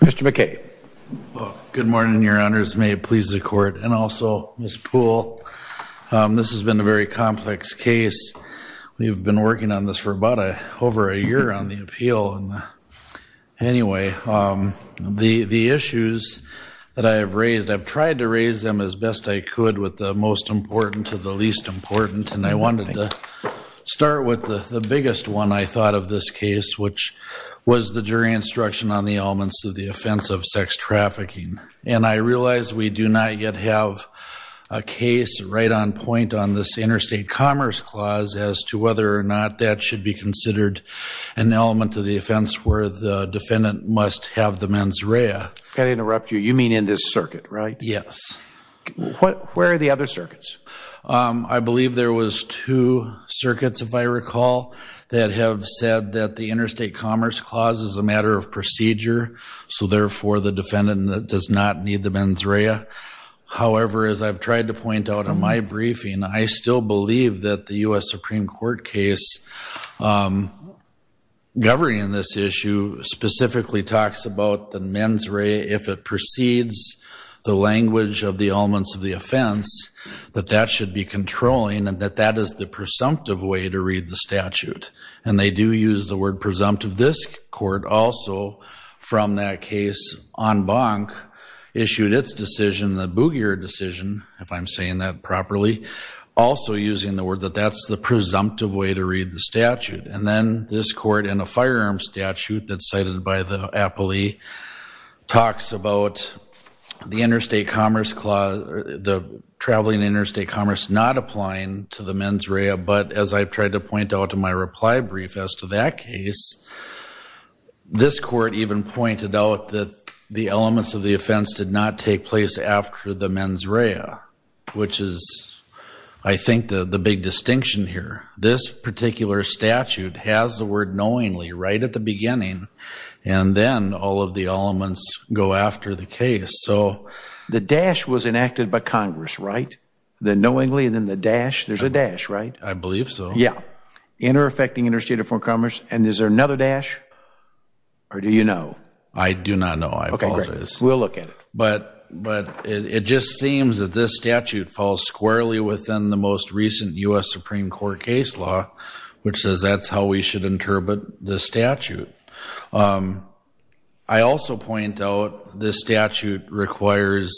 Mr. McKay. Good morning, your honors. May it please the court and also Ms. Poole. This has been a very complex case. We've been working on this for about over a year on the appeal. Anyway, the issues that I have raised, I've tried to raise them as best I could with the most important to the least important. And I wanted to start with the biggest one I thought of this case, which was the jury instruction on the elements of the offense of sex trafficking. And I realize we do not yet have a case right on point on this interstate commerce clause as to whether or not that should be considered an element of the offense where the defendant must have the mens rea. I interrupt you. You mean in this circuit, right? Yes. Where are the other circuits? I believe there was two circuits, if I recall, that have said that the interstate commerce clause is a matter of procedure. So therefore, the defendant does not need the mens rea. However, as I've tried to point out in my briefing, I still believe that the U.S. Supreme Court case governing this issue specifically talks about the mens rea if it precedes the language of the elements of the offense, that that should be controlling and that that is the presumptive way to read the statute. And they do use the word presumptive. This court also from that case en banc issued its decision, the Boogier decision, if I'm saying that properly, also using the word that that's the presumptive way to read the statute. And then this court in a firearm statute that's cited by the appellee talks about the interstate commerce clause, the traveling interstate commerce not applying to the mens rea. But as I've tried to point out in my reply brief as to that case, this court even pointed out that the elements of the offense did not take place after the mens rea, which is, I think, the big distinction here. This particular statute has the word knowingly right at the beginning. And then all of the elements go after the case. So the dash was enacted by Congress, right? The inter-affecting interstate of foreign commerce. And is there another dash or do you know? I do not know. I apologize. We'll look at it. But it just seems that this statute falls squarely within the most recent U.S. Supreme Court case law, which says that's how we should interpret the statute. I also point out this statute requires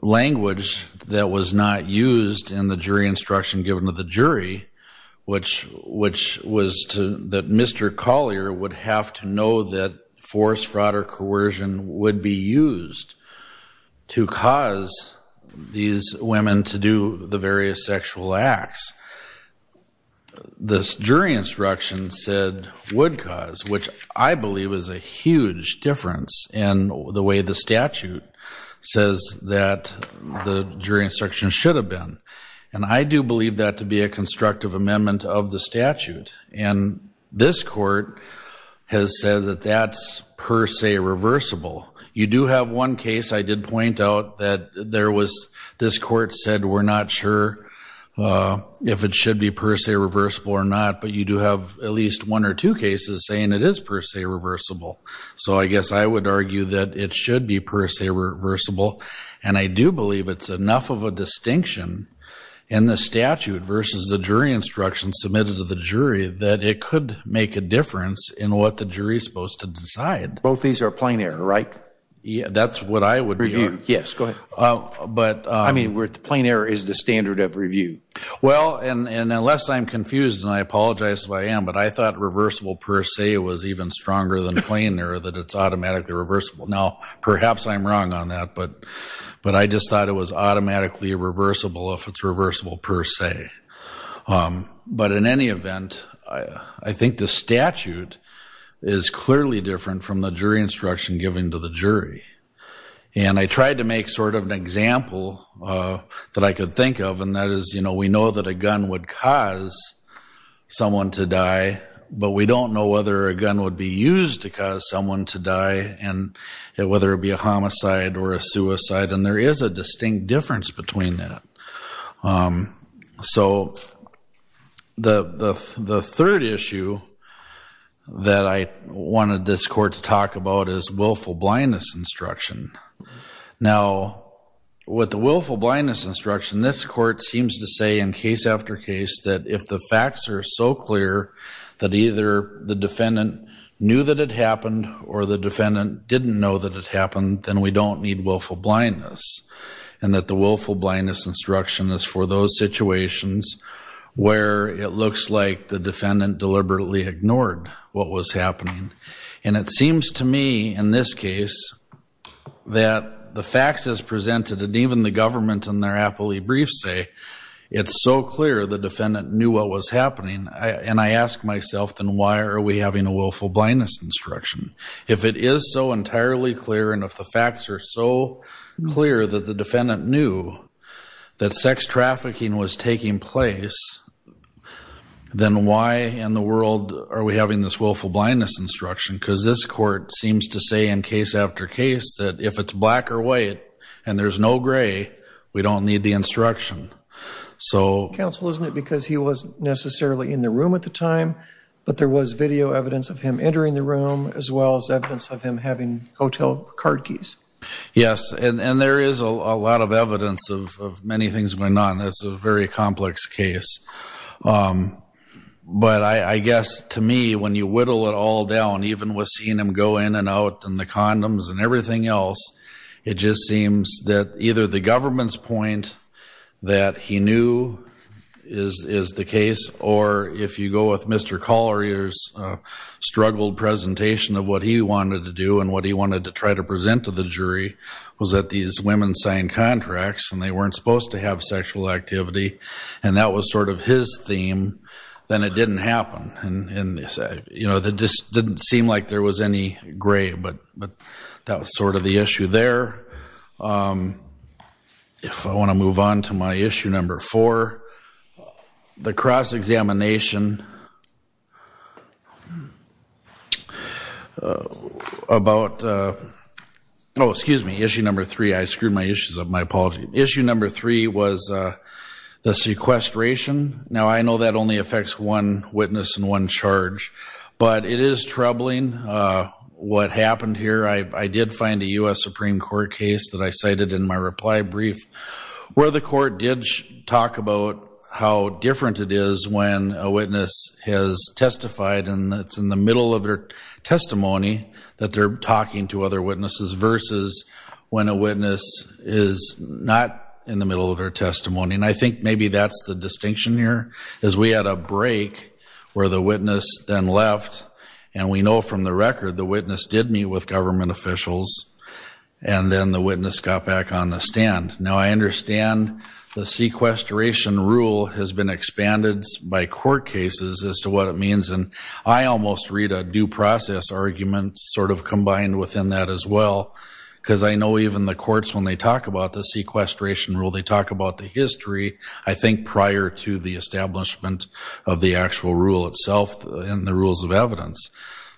language that was not used in the jury instruction given to the jury, which was that Mr. Collier would have to know that force, fraud, or coercion would be used to cause these women to do the various sexual acts. This jury instruction said would cause, which I believe is a huge difference in the way the statute says that the jury instruction should have been. And I do believe that to be a constructive amendment of the statute. And this court has said that that's per se reversible. You do have one case I did point out that this court said we're not sure if it should be per se reversible or not. But you do have at least one or two cases saying it is per se reversible. So I guess I would argue that it in the statute versus the jury instruction submitted to the jury that it could make a difference in what the jury is supposed to decide. Both these are plain error, right? Yeah, that's what I would be on. Yes, go ahead. I mean, plain error is the standard of review. Well, and unless I'm confused, and I apologize if I am, but I thought reversible per se was even stronger than plain error, that it's automatically reversible. Now, perhaps I'm automatically irreversible if it's reversible per se. But in any event, I think the statute is clearly different from the jury instruction given to the jury. And I tried to make sort of an example that I could think of. And that is, you know, we know that a gun would cause someone to die, but we don't know whether a gun would be used to cause someone to die, whether it be a homicide or a suicide. And there is a distinct difference between that. So the third issue that I wanted this court to talk about is willful blindness instruction. Now, with the willful blindness instruction, this court seems to say in case after case that if the facts are so clear that either the defendant knew that it happened, or the defendant didn't know that it happened, then we don't need willful blindness. And that the willful blindness instruction is for those situations where it looks like the defendant deliberately ignored what was happening. And it seems to me in this case that the facts as the defendant knew what was happening, and I ask myself, then why are we having a willful blindness instruction? If it is so entirely clear, and if the facts are so clear that the defendant knew that sex trafficking was taking place, then why in the world are we having this willful blindness instruction? Because this court seems to say in case after case that if it's black or white, and there's no gray, we don't need the instruction. So... Counsel, isn't it because he wasn't necessarily in the room at the time, but there was video evidence of him entering the room, as well as evidence of him having hotel card keys? Yes. And there is a lot of evidence of many things going on. That's a very complex case. But I guess to me, when you whittle it all down, even with seeing him go in and out, and the condoms, and everything else, it just seems that either the government's point that he knew is the case, or if you go with Mr. Collier's struggled presentation of what he wanted to do, and what he wanted to try to present to the jury, was that these women signed contracts, and they weren't supposed to have sexual activity, and that was sort of his theme, then it didn't happen. And it just didn't seem like there was any gray, but that was sort of the issue there. If I want to move on to my issue number four, the cross-examination about... Oh, excuse me. Issue number three. I screwed my issues up. My apology. Issue number was the sequestration. Now, I know that only affects one witness and one charge, but it is troubling what happened here. I did find a US Supreme Court case that I cited in my reply brief, where the court did talk about how different it is when a witness has testified, and it's in the middle of their testimony that they're talking to other witnesses, versus when a witness is not in the middle of their testimony. And I think maybe that's the distinction here, is we had a break where the witness then left, and we know from the record, the witness did meet with government officials, and then the witness got back on the stand. Now, I understand the sequestration rule has been expanded by court cases as to what it means, and I almost read a due process argument combined within that as well, because I know even the courts, when they talk about the sequestration rule, they talk about the history, I think, prior to the establishment of the actual rule itself and the rules of evidence.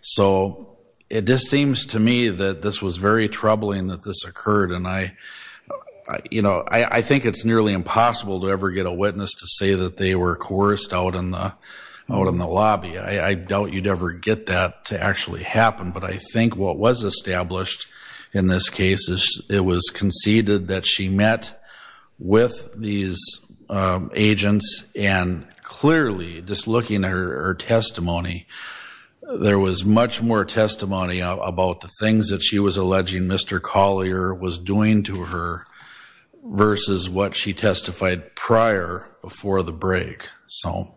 So it just seems to me that this was very troubling that this occurred, and I think it's nearly impossible to ever get a witness to say that they were coerced out in the lobby. I doubt you'd ever get that to actually happen, but I think what was established in this case is it was conceded that she met with these agents, and clearly, just looking at her testimony, there was much more testimony about the things that she was alleging Mr. Collier was doing to her, versus what she testified prior, before the break. So,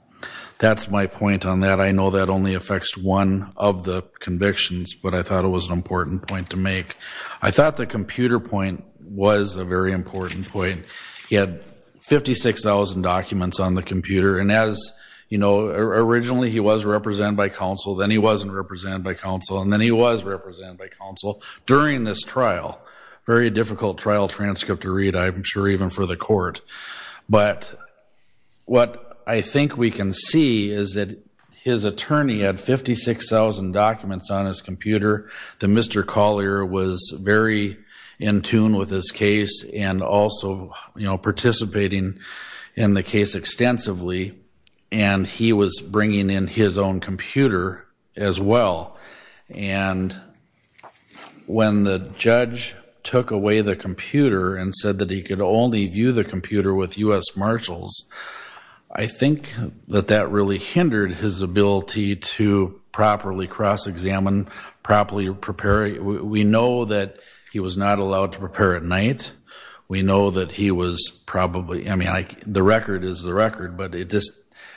that's my point on that. I know that only affects one of the convictions, but I thought it was an important point to make. I thought the computer point was a very important point. He had 56,000 documents on the computer, and as you know, originally he was represented by counsel, then he wasn't represented by counsel, and then he was represented by counsel during this trial. Very difficult trial transcript to read, I'm sure, even for the court, but what I think we can see is that his attorney had 56,000 documents on his computer, that Mr. Collier was very in tune with his case and also, you know, participating in the case extensively, and he was when the judge took away the computer and said that he could only view the computer with U.S. Marshals, I think that that really hindered his ability to properly cross-examine, properly prepare. We know that he was not allowed to prepare at night. We know that he was probably, I mean, the record is the record, but it just,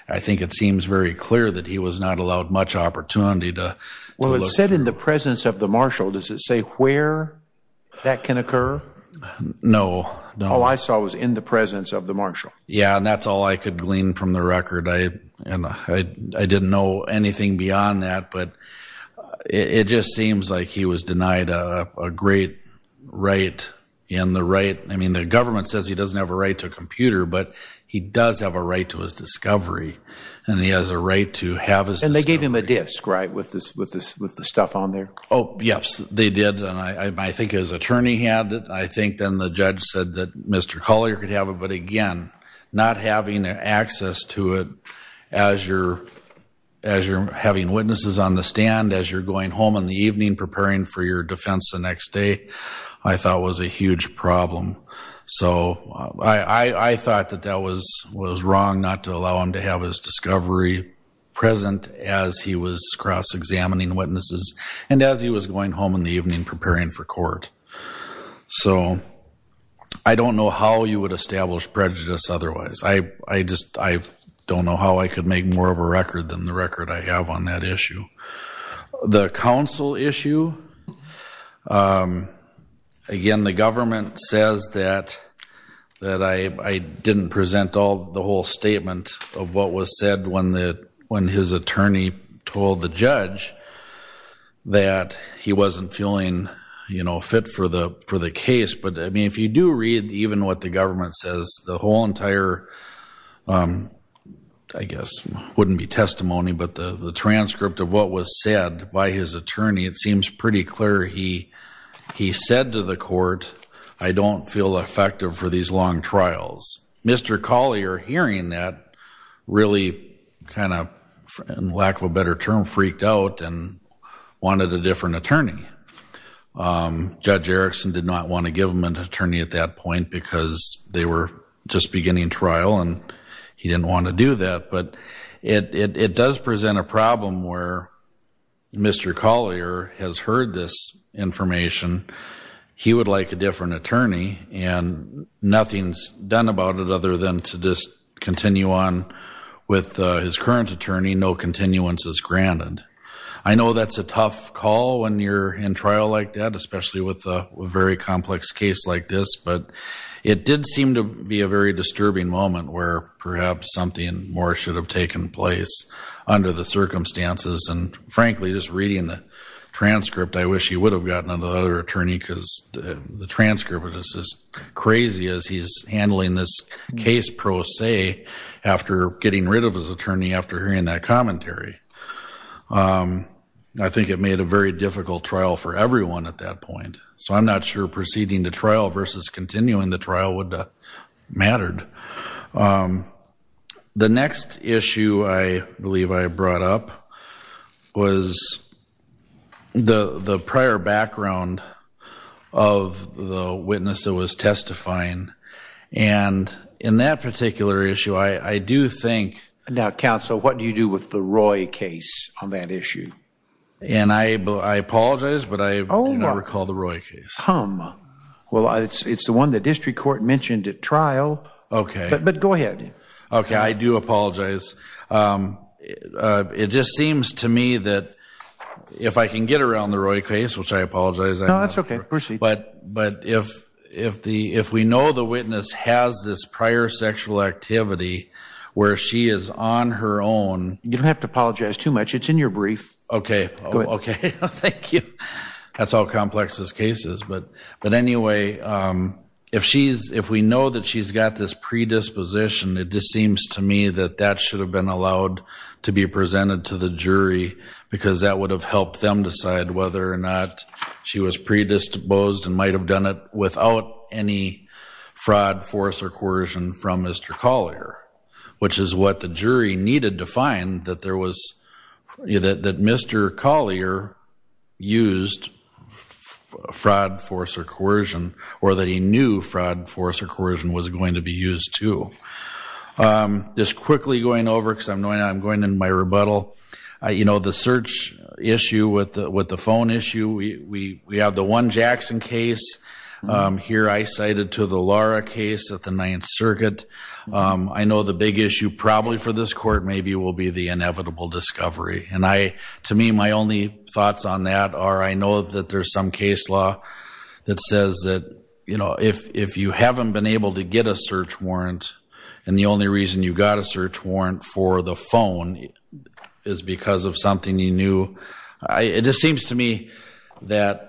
I think it seems very clear that he was not allowed much opportunity to... Well, it said in the presence of the marshal. Does it say where that can occur? No. All I saw was in the presence of the marshal. Yeah, and that's all I could glean from the record. I didn't know anything beyond that, but it just seems like he was denied a great right, and the right, I mean, the government says he doesn't have a right to a computer, but he does have a right to his discovery, and he has a right to have his... And they gave him a disc, right, with the stuff on there? Oh, yes, they did, and I think his attorney had it. I think then the judge said that Mr. Collier could have it, but again, not having access to it as you're having witnesses on the stand, as you're going home in the evening preparing for your defense the next day, I thought was a huge problem. So I thought that that was wrong not to allow him to have his discovery present as he was cross-examining witnesses, and as he was going home in the evening preparing for court. So I don't know how you would establish prejudice otherwise. I just, I don't know how I could make more of a record than the record I have on that Again, the government says that I didn't present all the whole statement of what was said when his attorney told the judge that he wasn't feeling, you know, fit for the case, but I mean, if you do read even what the government says, the whole entire, I guess, wouldn't be testimony, but the transcript of what was said by his attorney, it seems pretty clear he said to the court, I don't feel effective for these long trials. Mr. Collier hearing that really kind of, in lack of a better term, freaked out and wanted a different attorney. Judge Erickson did not want to give him an attorney at that point because they were just beginning trial and he didn't want to do that, but it does present a problem where Mr. Collier has heard this information, he would like a different attorney and nothing's done about it other than to just continue on with his current attorney, no continuances granted. I know that's a tough call when you're in trial like that, especially with a very complex case like this, but it did seem to be a very disturbing moment where perhaps something more should have taken place under the circumstances and frankly, just reading the transcript, I wish he would have gotten another attorney because the transcript is as crazy as he's handling this case pro se after getting rid of his attorney after hearing that commentary. I think it made a very difficult trial for everyone at that point, so I'm not sure proceeding to trial versus continuing the trial would have mattered. The next issue I believe I brought up was the prior background of the witness that was testifying and in that particular issue, I do think- Now counsel, what do you do with the Roy case on that issue? And I apologize, but I do not recall the Roy case. Well, it's the one the district court mentioned at trial. Okay. But go ahead. Okay, I do apologize. It just seems to me that if I can get around the Roy case, which I apologize- No, that's okay. Proceed. But if we know the witness has this prior sexual activity where she is on her own- You don't have to apologize too much. It's in your brief. Okay. Go ahead. Okay. Thank you. That's how complex this case is, but anyway, if we know that she's got this predisposition, it just seems to me that that should have been allowed to be presented to the jury because that would have helped them decide whether or not she was predisposed and might have done it without any fraud, force, or coercion from Mr. Collier, which is what the jury needed to find that Mr. Collier used fraud, force, or coercion, or that he knew fraud, force, or coercion was going to be used too. Just quickly going over because I'm going in my rebuttal, the search issue with the phone issue, we have the one Jackson case. Here I cited to the Lara case at the Ninth Circuit. I know the big issue probably for this court maybe will be the inevitable discovery. To me, my only thoughts on that are I know that there's some case law that says that if you haven't been able to get a search warrant and the only reason you got a search warrant for the phone is because of something you knew, it just seems to me that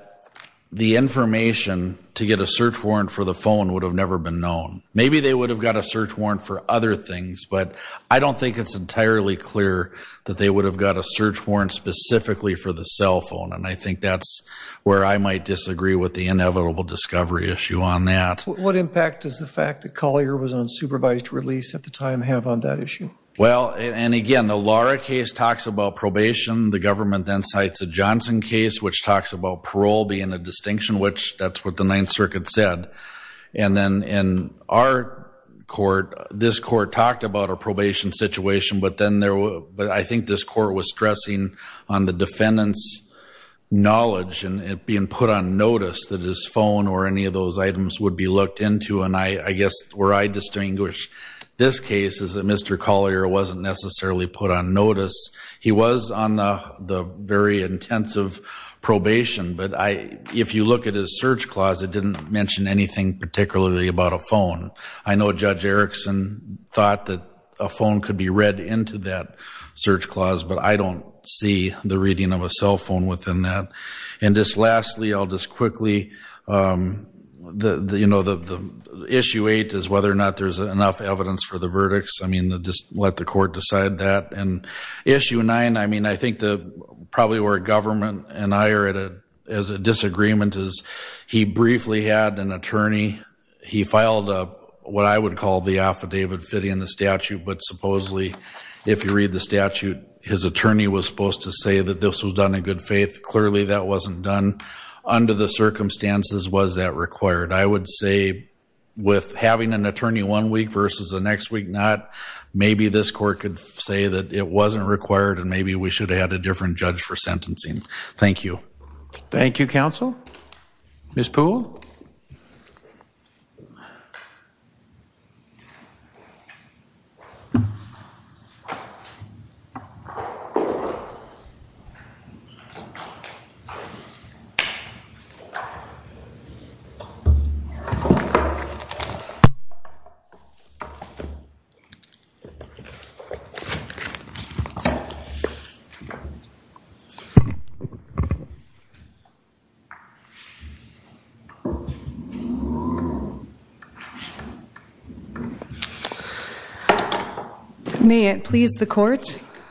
the information to get a search warrant for the phone would have never been known. Maybe they would have got a search warrant for other things, but I don't think it's entirely clear that they would have got a search warrant specifically for the cell phone, and I think that's where I might disagree with the inevitable discovery issue on that. What impact does the fact that Collier was on supervised release at the time have on that issue? Well, and again, the Lara case talks about probation. The government then cites a Johnson case, which talks about parole being a distinction, which that's what the Ninth Circuit said. And then in our court, this court talked about a probation situation, but I think this court was stressing on the defendant's knowledge and being put on notice that his phone or any of those items would be looked into, and I guess where I distinguish this case is that Mr. Collier wasn't necessarily put on notice. He was on the very intensive probation, but if you look at his clause, it didn't mention anything particularly about a phone. I know Judge Erickson thought that a phone could be read into that search clause, but I don't see the reading of a cell phone within that. And just lastly, I'll just quickly, you know, the issue eight is whether or not there's enough evidence for the verdicts. I mean, just let the court decide that. And issue nine, I mean, I think probably where government and I are at a disagreement is he briefly had an attorney. He filed what I would call the affidavit fitting the statute, but supposedly, if you read the statute, his attorney was supposed to say that this was done in good faith. Clearly, that wasn't done. Under the circumstances, was that required? I would say with having an attorney one week versus the next week not, maybe this court could say that it wasn't required and maybe we should have had a different judge for sentencing. Thank you. Thank you, counsel. Ms. Poole? May it please the court,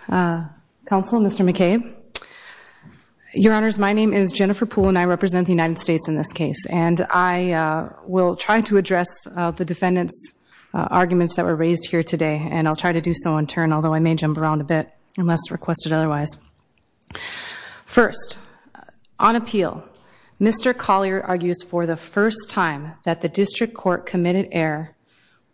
counsel, Mr. McCabe. Your honors, my name is Jennifer Poole and I represent the United States in this case. And I will try to address the defendant's raised here today and I'll try to do so in turn, although I may jump around a bit unless requested otherwise. First, on appeal, Mr. Collier argues for the first time that the district court committed error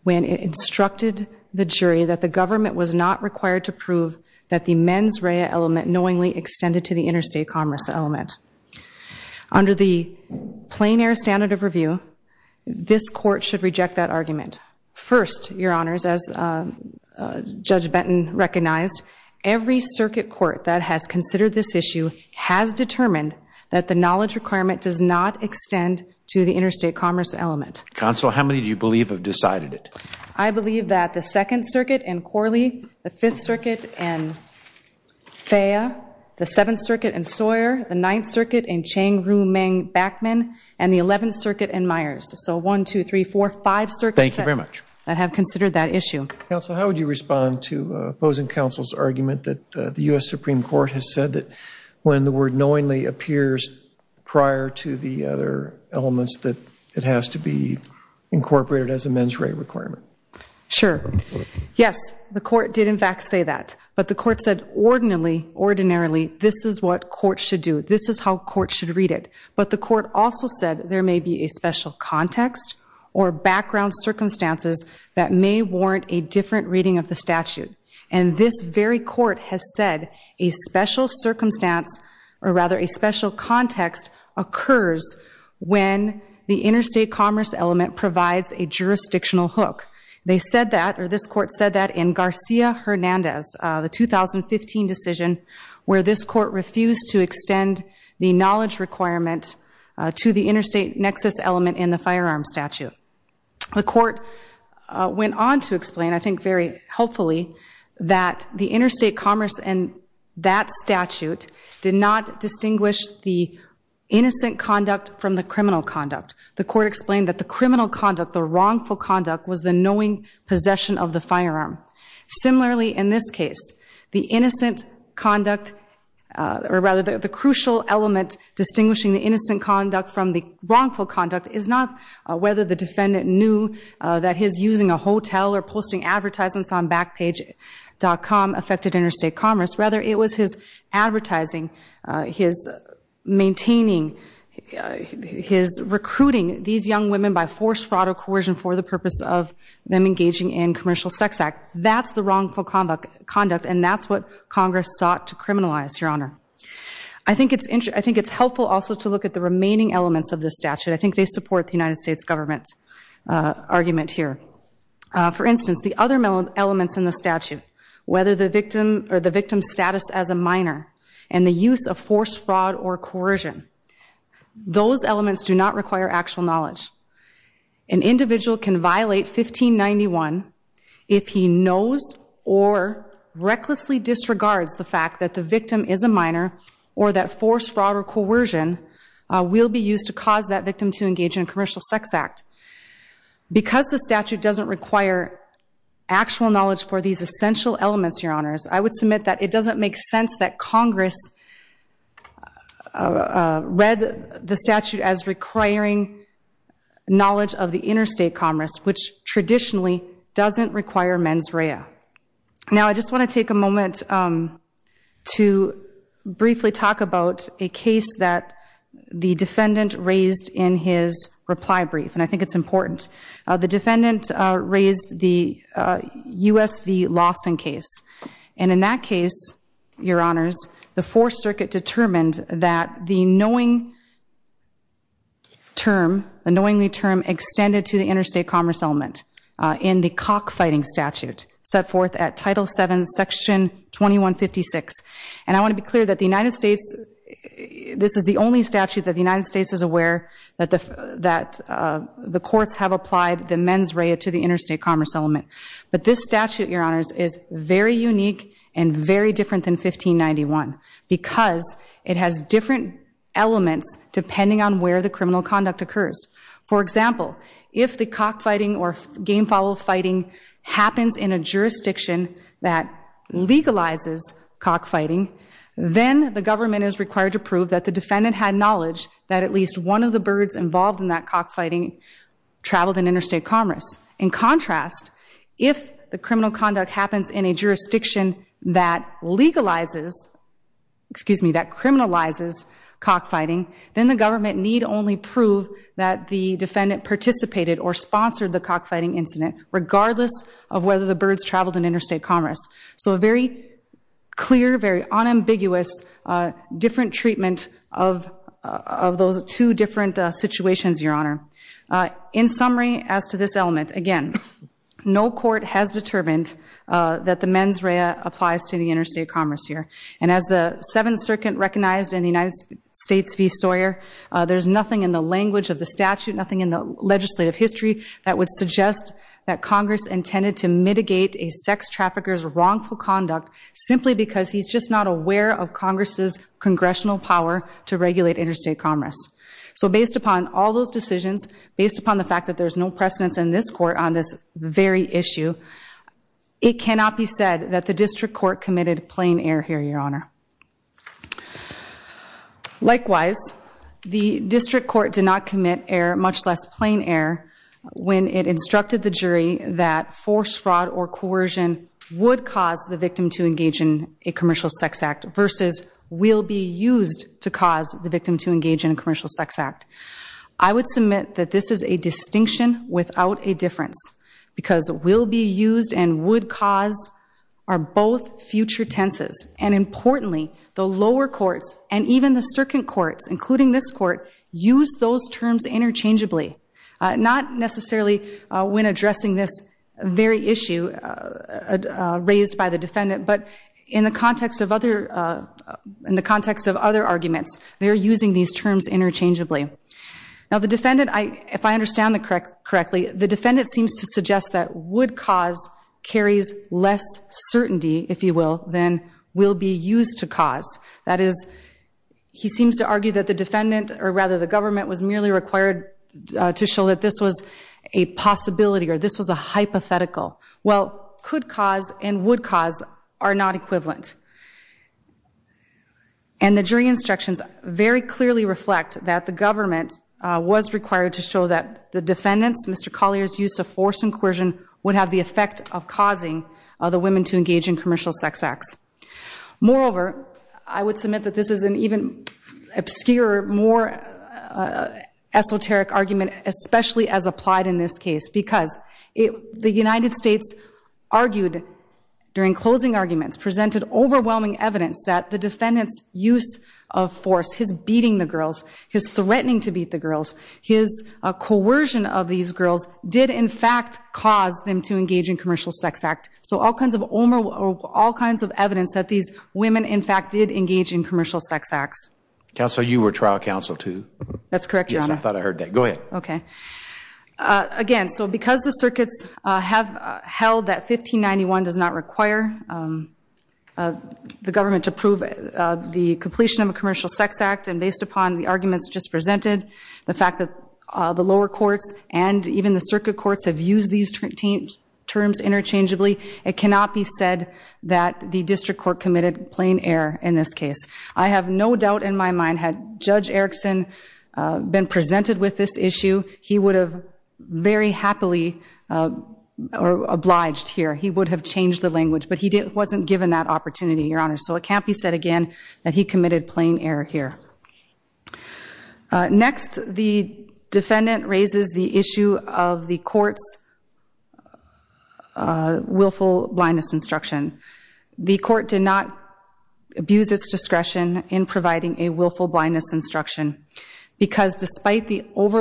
when it instructed the jury that the government was not required to prove that the mens rea element knowingly extended to the interstate commerce element. Under the plain air standard of review, this court should reject that argument. First, your honors, as Judge Benton recognized, every circuit court that has considered this issue has determined that the knowledge requirement does not extend to the interstate commerce element. Counsel, how many do you believe have decided it? I believe that the second circuit in Corley, the fifth circuit in Myers. So one, two, three, four, five circuits. Thank you very much. That have considered that issue. Counsel, how would you respond to opposing counsel's argument that the U.S. Supreme Court has said that when the word knowingly appears prior to the other elements that it has to be incorporated as a mens rea requirement? Sure. Yes, the court did in fact say that. But the court said ordinarily this is what court should do. This is how court should read it. But the context or background circumstances that may warrant a different reading of the statute. And this very court has said a special circumstance or rather a special context occurs when the interstate commerce element provides a jurisdictional hook. They said that or this court said that in Garcia Hernandez, the 2015 decision where this court refused to extend the knowledge requirement to the interstate nexus element in the firearm statute. The court went on to explain, I think very helpfully, that the interstate commerce and that statute did not distinguish the innocent conduct from the criminal conduct. The court explained that the criminal conduct, the wrongful conduct, was the knowing possession of the distinguishing the innocent conduct from the wrongful conduct is not whether the defendant knew that his using a hotel or posting advertisements on backpage.com affected interstate commerce. Rather, it was his advertising, his maintaining, his recruiting these young women by forced fraud or coercion for the purpose of them engaging in commercial sex act. That's the wrongful conduct. And that's what Congress sought to criminalize, Your Honor. I think it's helpful also to look at the remaining elements of this statute. I think they support the United States government's argument here. For instance, the other elements in the statute, whether the victim or the victim's status as a minor and the use of forced fraud or coercion, those elements do not require actual knowledge. An individual can violate 1591 if he knows or recklessly disregards the fact that the victim is a minor or that forced fraud or coercion will be used to cause that victim to engage in a commercial sex act. Because the statute doesn't require actual knowledge for these essential elements, Your Honors, I would submit that it doesn't make sense that Congress read the statute as requiring knowledge of the Now, I just want to take a moment to briefly talk about a case that the defendant raised in his reply brief. And I think it's important. The defendant raised the USV Lawson case. And in that case, Your Honors, the Fourth Circuit determined that the knowingly term extended to the interstate commerce element in the cockfighting statute set forth at Title VII, Section 2156. And I want to be clear that the United States, this is the only statute that the United States is aware that the courts have applied the mens rea to the interstate commerce element. But this statute, Your Honors, is very unique and very different than 1591 because it has different elements depending on where the criminal conduct occurs. For example, if the cockfighting or game follow fighting happens in a jurisdiction that legalizes cockfighting, then the government is required to prove that the defendant had knowledge that at least one of the birds involved in that cockfighting traveled in interstate commerce. In contrast, if the criminal cockfighting, then the government need only prove that the defendant participated or sponsored the cockfighting incident regardless of whether the birds traveled in interstate commerce. So a very clear, very unambiguous, different treatment of those two different situations, Your Honor. In summary, as to this element, again, no court has determined that the mens rea applies to the United States v. Sawyer. There's nothing in the language of the statute, nothing in the legislative history that would suggest that Congress intended to mitigate a sex trafficker's wrongful conduct simply because he's just not aware of Congress's congressional power to regulate interstate commerce. So based upon all those decisions, based upon the fact that there's no precedence in this court on this very issue, it cannot be said that the district court committed plain error here, Your Honor. Likewise, the district court did not commit error, much less plain error, when it instructed the jury that forced fraud or coercion would cause the victim to engage in a commercial sex act versus will be used to cause the victim to engage in a commercial sex act. I would submit that this is a distinction without a difference because will be used and would cause are both future tenses. And importantly, the lower courts and even the circuit courts, including this court, use those terms interchangeably. Not necessarily when addressing this very issue raised by the defendant, but in the context of other arguments, they're using these terms interchangeably. Now, the defendant, if I understand it correctly, the defendant seems to suggest that would cause carries less certainty, if you will, than will be used to cause. That is, he seems to argue that the defendant, or rather the government, was merely required to show that this was a possibility or this was a hypothetical. Well, could cause and would cause are not equivalent. And the jury instructions very clearly reflect that the government was required to show that the defendant's, Mr. Collier's, use of force and coercion would have the effect of causing the women to engage in commercial sex acts. Moreover, I would submit that this is an even obscure, more esoteric argument, especially as applied in this case, because the United States argued during closing arguments presented overwhelming evidence that the defendant's use of force, his beating the girls, his threatening to beat the girls, his coercion of these girls, did in fact cause them to engage in commercial sex act. So all kinds of evidence that these women, in fact, did engage in commercial sex acts. Counselor, you were trial counsel too? That's correct, Your Honor. Yes, I thought I heard that. Go ahead. Okay. Again, so because the circuits have held that 1591 does not require the government to prove the completion of a commercial sex act, and based upon the arguments just presented, the fact that the lower courts and even the circuit courts have used these terms interchangeably, it cannot be said that the district court committed plain error in this case. I have no doubt in my mind had Judge Erickson been presented with this or obliged here, he would have changed the language, but he wasn't given that opportunity, Your Honor. So it can't be said again that he committed plain error here. Next, the defendant raises the issue of the court's willful blindness instruction. The court did not abuse its discretion in providing a willful blindness instruction, because despite the girls'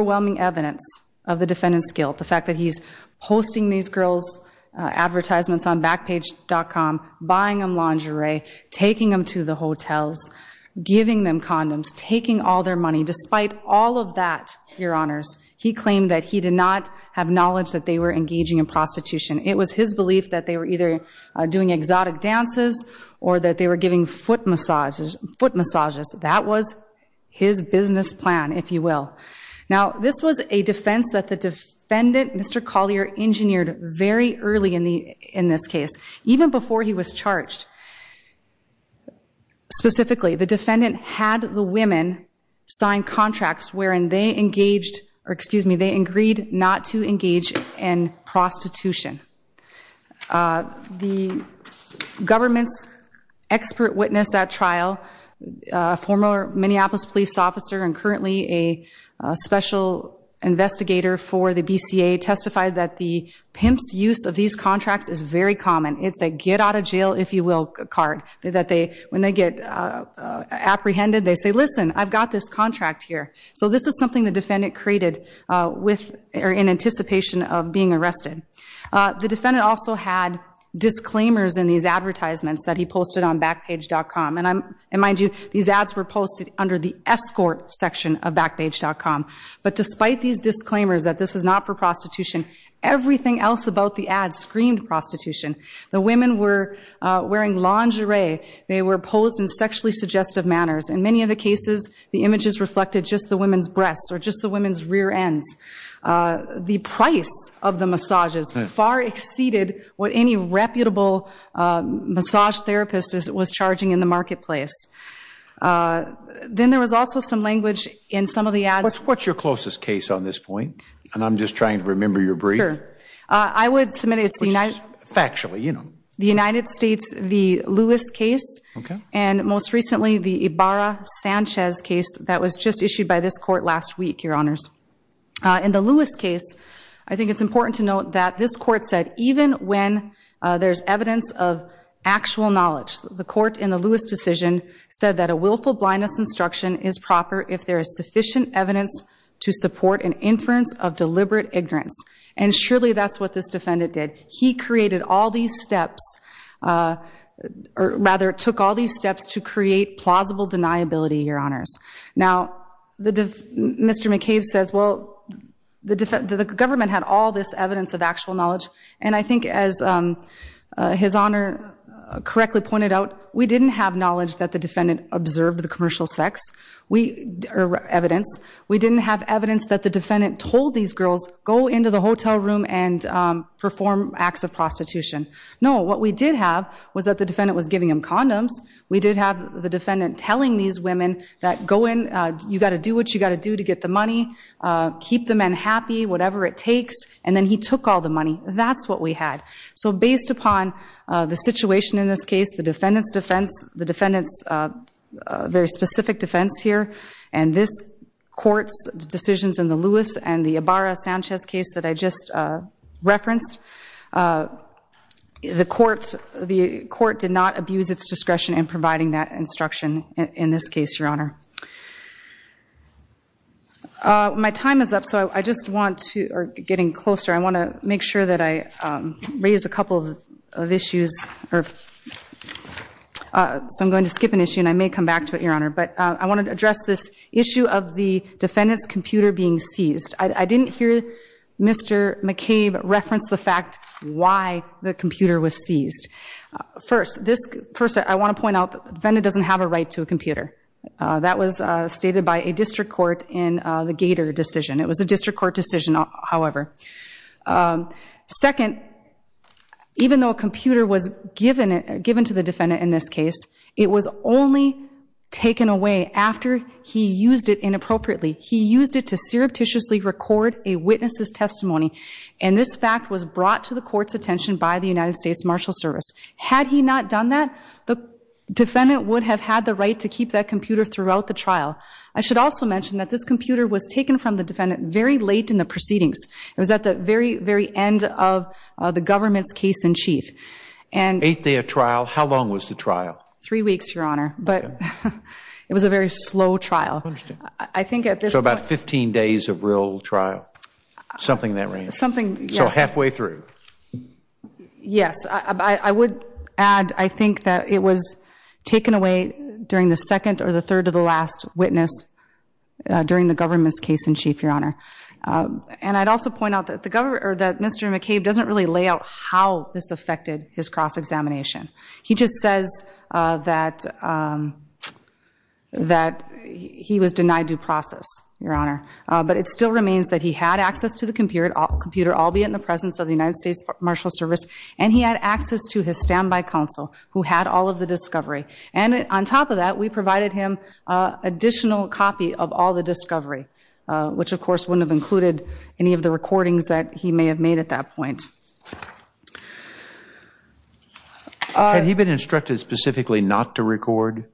advertisements on Backpage.com, buying them lingerie, taking them to the hotels, giving them condoms, taking all their money, despite all of that, Your Honors, he claimed that he did not have knowledge that they were engaging in prostitution. It was his belief that they were either doing exotic dances or that they were giving foot massages. That was his business plan, if you will. Now, this was a defense that the defendant, Mr. Collier, engineered very early in this case, even before he was charged. Specifically, the defendant had the women sign contracts wherein they engaged, or excuse me, they agreed not to engage in prostitution. The government's expert witness at trial, a former Minneapolis police officer and currently a special investigator for the BCA, testified that the pimp's use of these contracts is very common. It's a get out of jail, if you will, card. When they get apprehended, they say, listen, I've got this contract here. So this is something the defendant created in anticipation of the defendant also had disclaimers in these advertisements that he posted on backpage.com. Mind you, these ads were posted under the escort section of backpage.com. But despite these disclaimers that this is not for prostitution, everything else about the ad screamed prostitution. The women were wearing lingerie. They were posed in sexually suggestive manners. In many of the cases, the images reflected just the women's breasts or just the women's rear ends. The price of the massages far exceeded what any reputable massage therapist was charging in the marketplace. Then there was also some language in some of the ads. What's your closest case on this point? And I'm just trying to remember your brief. Sure. I would submit it's the United States. Factually, you know. The United States, the Lewis case. And most recently, the Ibarra-Sanchez case that was just issued by this court last week, Your Honors. In the Lewis case, I think it's important to note that this court said even when there's evidence of actual knowledge, the court in the Lewis decision said that a willful blindness instruction is proper if there is sufficient evidence to support an inference of deliberate ignorance. And surely that's what this defendant did. He created all these steps, or rather took all these steps to create plausible deniability, Your Honors. Now, Mr. McCabe says, well, the government had all this evidence of actual knowledge. And I think as His Honor correctly pointed out, we didn't have knowledge that the defendant observed the commercial sex evidence. We didn't have evidence that the defendant told these girls go into the hotel room and perform acts of prostitution. No, what we did have was that defendant was giving them condoms. We did have the defendant telling these women that go in, you got to do what you got to do to get the money, keep the men happy, whatever it takes. And then he took all the money. That's what we had. So based upon the situation in this case, the defendant's defense, the defendant's very specific defense here, and this court's not abused its discretion in providing that instruction in this case, Your Honor. My time is up, so I just want to, or getting closer, I want to make sure that I raise a couple of issues. So I'm going to skip an issue, and I may come back to it, Your Honor. But I want to address this issue of the defendant's computer being seized. I didn't hear Mr. McCabe reference the fact why the computer was seized. First, I want to point out the defendant doesn't have a right to a computer. That was stated by a district court in the Gator decision. It was a district court decision, however. Second, even though a computer was given to the defendant in this case, it was only taken away after he used it inappropriately. He used it to surreptitiously record a witness's testimony, and this fact was brought to the court's attention by the United States Marshal Service. Had he not done that, the defendant would have had the right to keep that computer throughout the trial. I should also mention that this computer was taken from the defendant very late in the proceedings. It was at the very, very end of the government's case in chief. Eighth day of trial, how long was the trial? Three weeks, Your Honor, but it was a very slow trial. So about 15 days of real trial, something in that range. So halfway through. Yes. I would add, I think that it was taken away during the second or the third to the last witness during the government's case in chief, Your Honor. And I'd also point out that Mr. McCabe doesn't really lay out how this affected his cross-examination. He just says that that he was denied due process, Your Honor. But it still remains that he had access to the computer, albeit in the presence of the United States Marshal Service, and he had access to his standby counsel who had all of the discovery. And on top of that, we provided him additional copy of all the discovery, which of course wouldn't have included any of the recordings that he may have made at that point. Had he been instructed specifically not to record?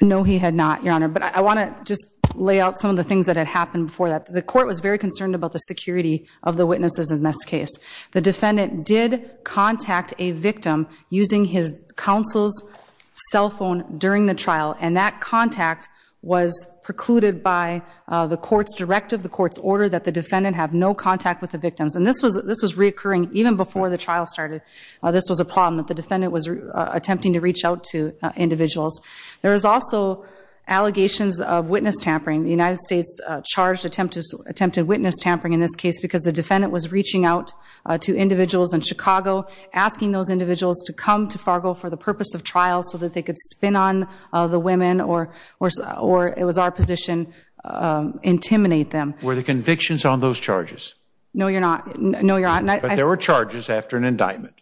No, he had not, Your Honor. But I want to just lay out some of the things that had happened before that. The court was very concerned about the security of the witnesses in this case. The defendant did contact a victim using his counsel's cell phone during the trial. And that contact was precluded by the court's directive, the court's order that the defendant have no contact with the victims. And this was reoccurring even before the trial started. This was a problem that the defendant was attempting to reach out to individuals. There was also allegations of witness tampering. The United States charged attempted witness tampering in this case because the defendant was reaching out to individuals in Chicago, asking those individuals to come to Fargo for the purpose of trial so that they could spin on the women, or it was our position, intimidate them. Were the convictions on those charges? No, you're not. No, you're not. But there were charges after an indictment?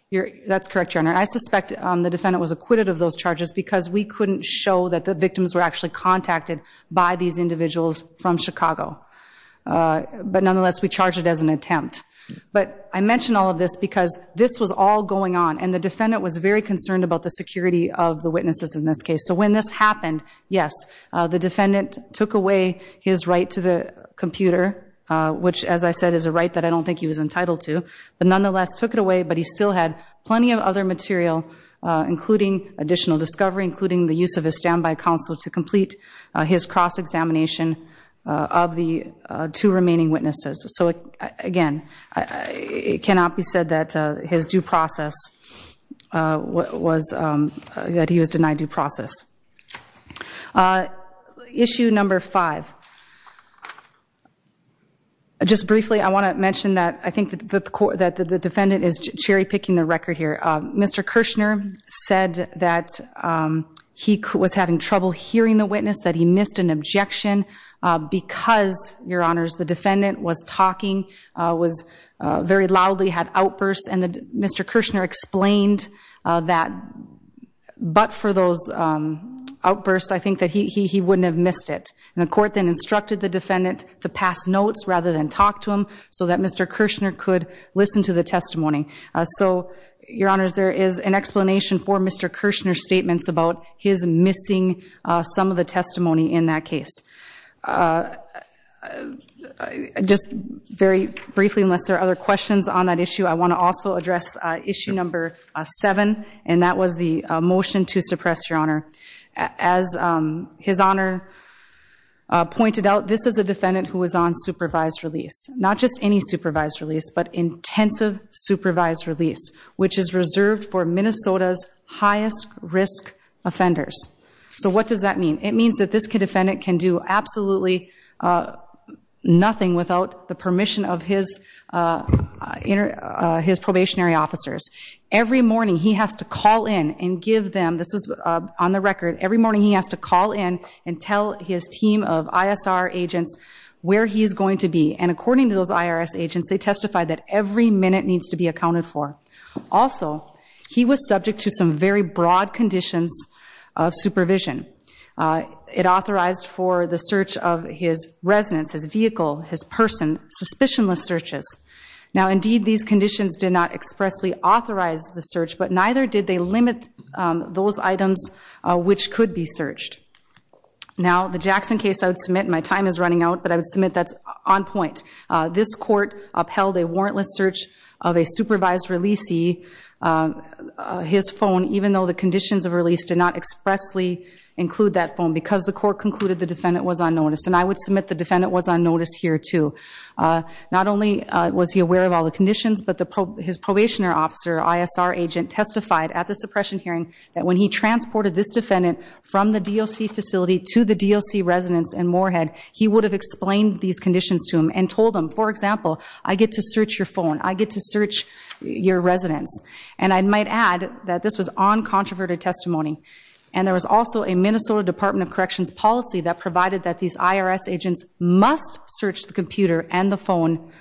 That's correct, Your Honor. I suspect the defendant was acquitted of those charges because we couldn't show that the victims were actually contacted by these individuals from Chicago. But nonetheless, we charged it as an attempt. But I mention all of this because this was all going on. And the defendant was very concerned about the security of the witnesses in this case. So when this happened, yes, the defendant took away his right to the computer, which, as I said, is a right that I don't think he was entitled to. But nonetheless, took it away. But he still had plenty of other material, including additional discovery, including the use of a standby counsel to complete his cross-examination of the two remaining witnesses. So again, it cannot be said that his due process was that he was denied due process. Issue number five. Just briefly, I want to mention that I think that the defendant is cherry-picking the record here. Mr. Kirshner said that he was having trouble hearing the witness, that he missed an objection because, Your Honors, the defendant was talking, was very loudly, had outbursts. And Mr. Kirshner explained that but for those outbursts, I think that he wouldn't have missed it. And the court then instructed the defendant to pass notes rather than talk to him so that Mr. Kirshner could listen to the testimony. So, Your Honors, there is an explanation for Mr. Kirshner's statements about his missing some of the testimony in that case. Just very briefly, unless there are other questions on that issue, I want to also address issue number seven. And that was the motion to suppress, Your Honor. As His Honor pointed out, this is a defendant who was on supervised release, not just any supervised release, but intensive supervised release, which is reserved for offenders. So what does that mean? It means that this defendant can do absolutely nothing without the permission of his probationary officers. Every morning, he has to call in and give them, this is on the record, every morning he has to call in and tell his team of ISR agents where he's going to be. And according to those IRS agents, they testify that every minute needs to be accounted for. Also, he was subject to some very broad conditions of supervision. It authorized for the search of his residence, his vehicle, his person, suspicionless searches. Now, indeed, these conditions did not expressly authorize the search, but neither did they limit those items which could be searched. Now, the Jackson case I would submit, my time is running out, but I would submit that's on point. This court upheld a warrantless search of a supervised releasee, his phone, even though the conditions of release did not expressly include that phone because the court concluded the defendant was on notice. And I would submit the defendant was on notice here, too. Not only was he aware of all the conditions, but his probationary officer, ISR agent, testified at the suppression hearing that when he transported this defendant from the residence in Moorhead, he would have explained these conditions to him and told him, for example, I get to search your phone. I get to search your residence. And I might add that this was on controverted testimony. And there was also a Minnesota Department of Corrections policy that provided that these IRS agents must search the computer and the phone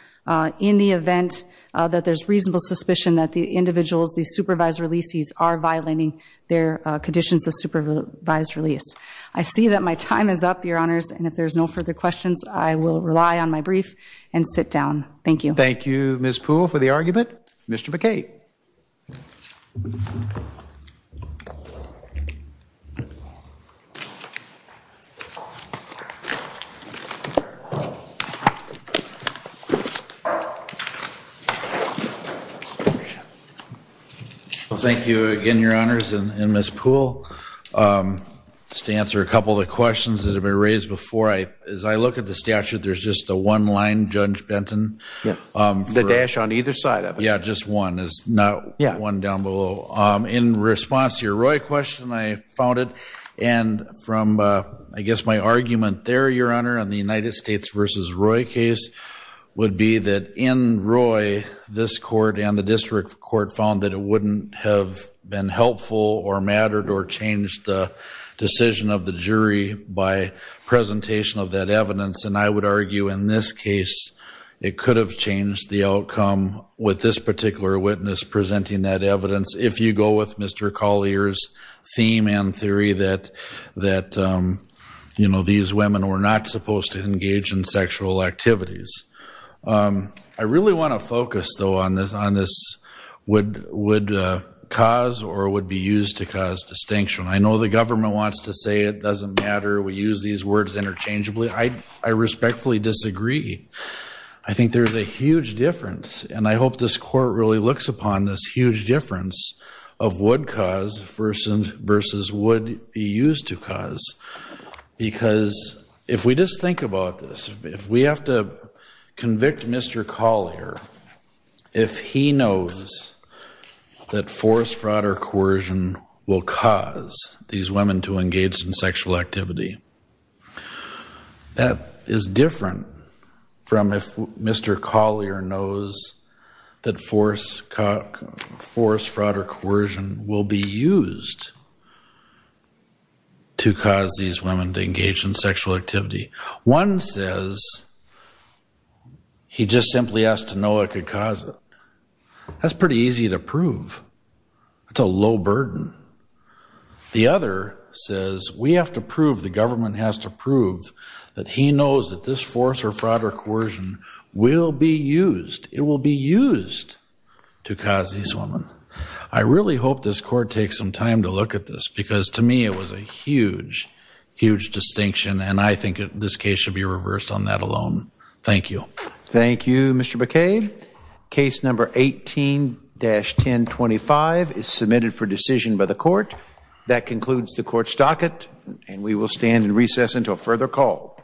in the event that there's reasonable suspicion that the individuals, these supervised releasees, are violating their conditions of supervised release. I see that my time is up, Your Honors, and if there's no further questions, I will rely on my brief and sit down. Thank you. Thank you, Ms. Poole, for the argument. Mr. McCate. Well, thank you again, Your Honors, and Ms. Poole. Just to answer a couple of the questions that have been raised before, as I look at the statute, there's just the one line, Judge Benton. The dash on either side of it. Just one is not one down below. In response to your Roy question, I found it. And from, I guess, my argument there, Your Honor, on the United States v. Roy case would be that in Roy, this court and the district court found that it wouldn't have been helpful or mattered or changed the decision of the jury by presentation of that evidence. And I would argue in this case, it could have changed the outcome with this particular witness presenting that evidence, if you go with Mr. Collier's theme and theory that these women were not supposed to engage in sexual activities. I really want to focus, though, on this would cause or would be used to cause distinction. I know the government wants to say it doesn't matter. We use these words interchangeably. I respectfully disagree. I think there's a huge difference. And I hope this court really looks upon this huge difference of would cause versus would be used to cause. Because if we just think about this, if we have to convict Mr. Collier, if he knows that forced fraud or coercion will cause these women to engage in sexual activity, that is different from if Mr. Collier knows that forced fraud or coercion will be used to cause these women to engage in sexual activity. One says he just simply has to know what could cause it. That's pretty easy to prove. It's a low burden. The other says we have to prove, the government has to prove, that he knows that this force or fraud or coercion will be used, it will be used, to cause these women. I really hope this court takes some time to look at this because to me it was a huge, huge distinction. And I think this case should be reversed on that alone. Thank you. Thank you, Mr. McKay. Case number 18-1025 is submitted for decision by the court. That concludes the court's docket and we will stand in recess until further call.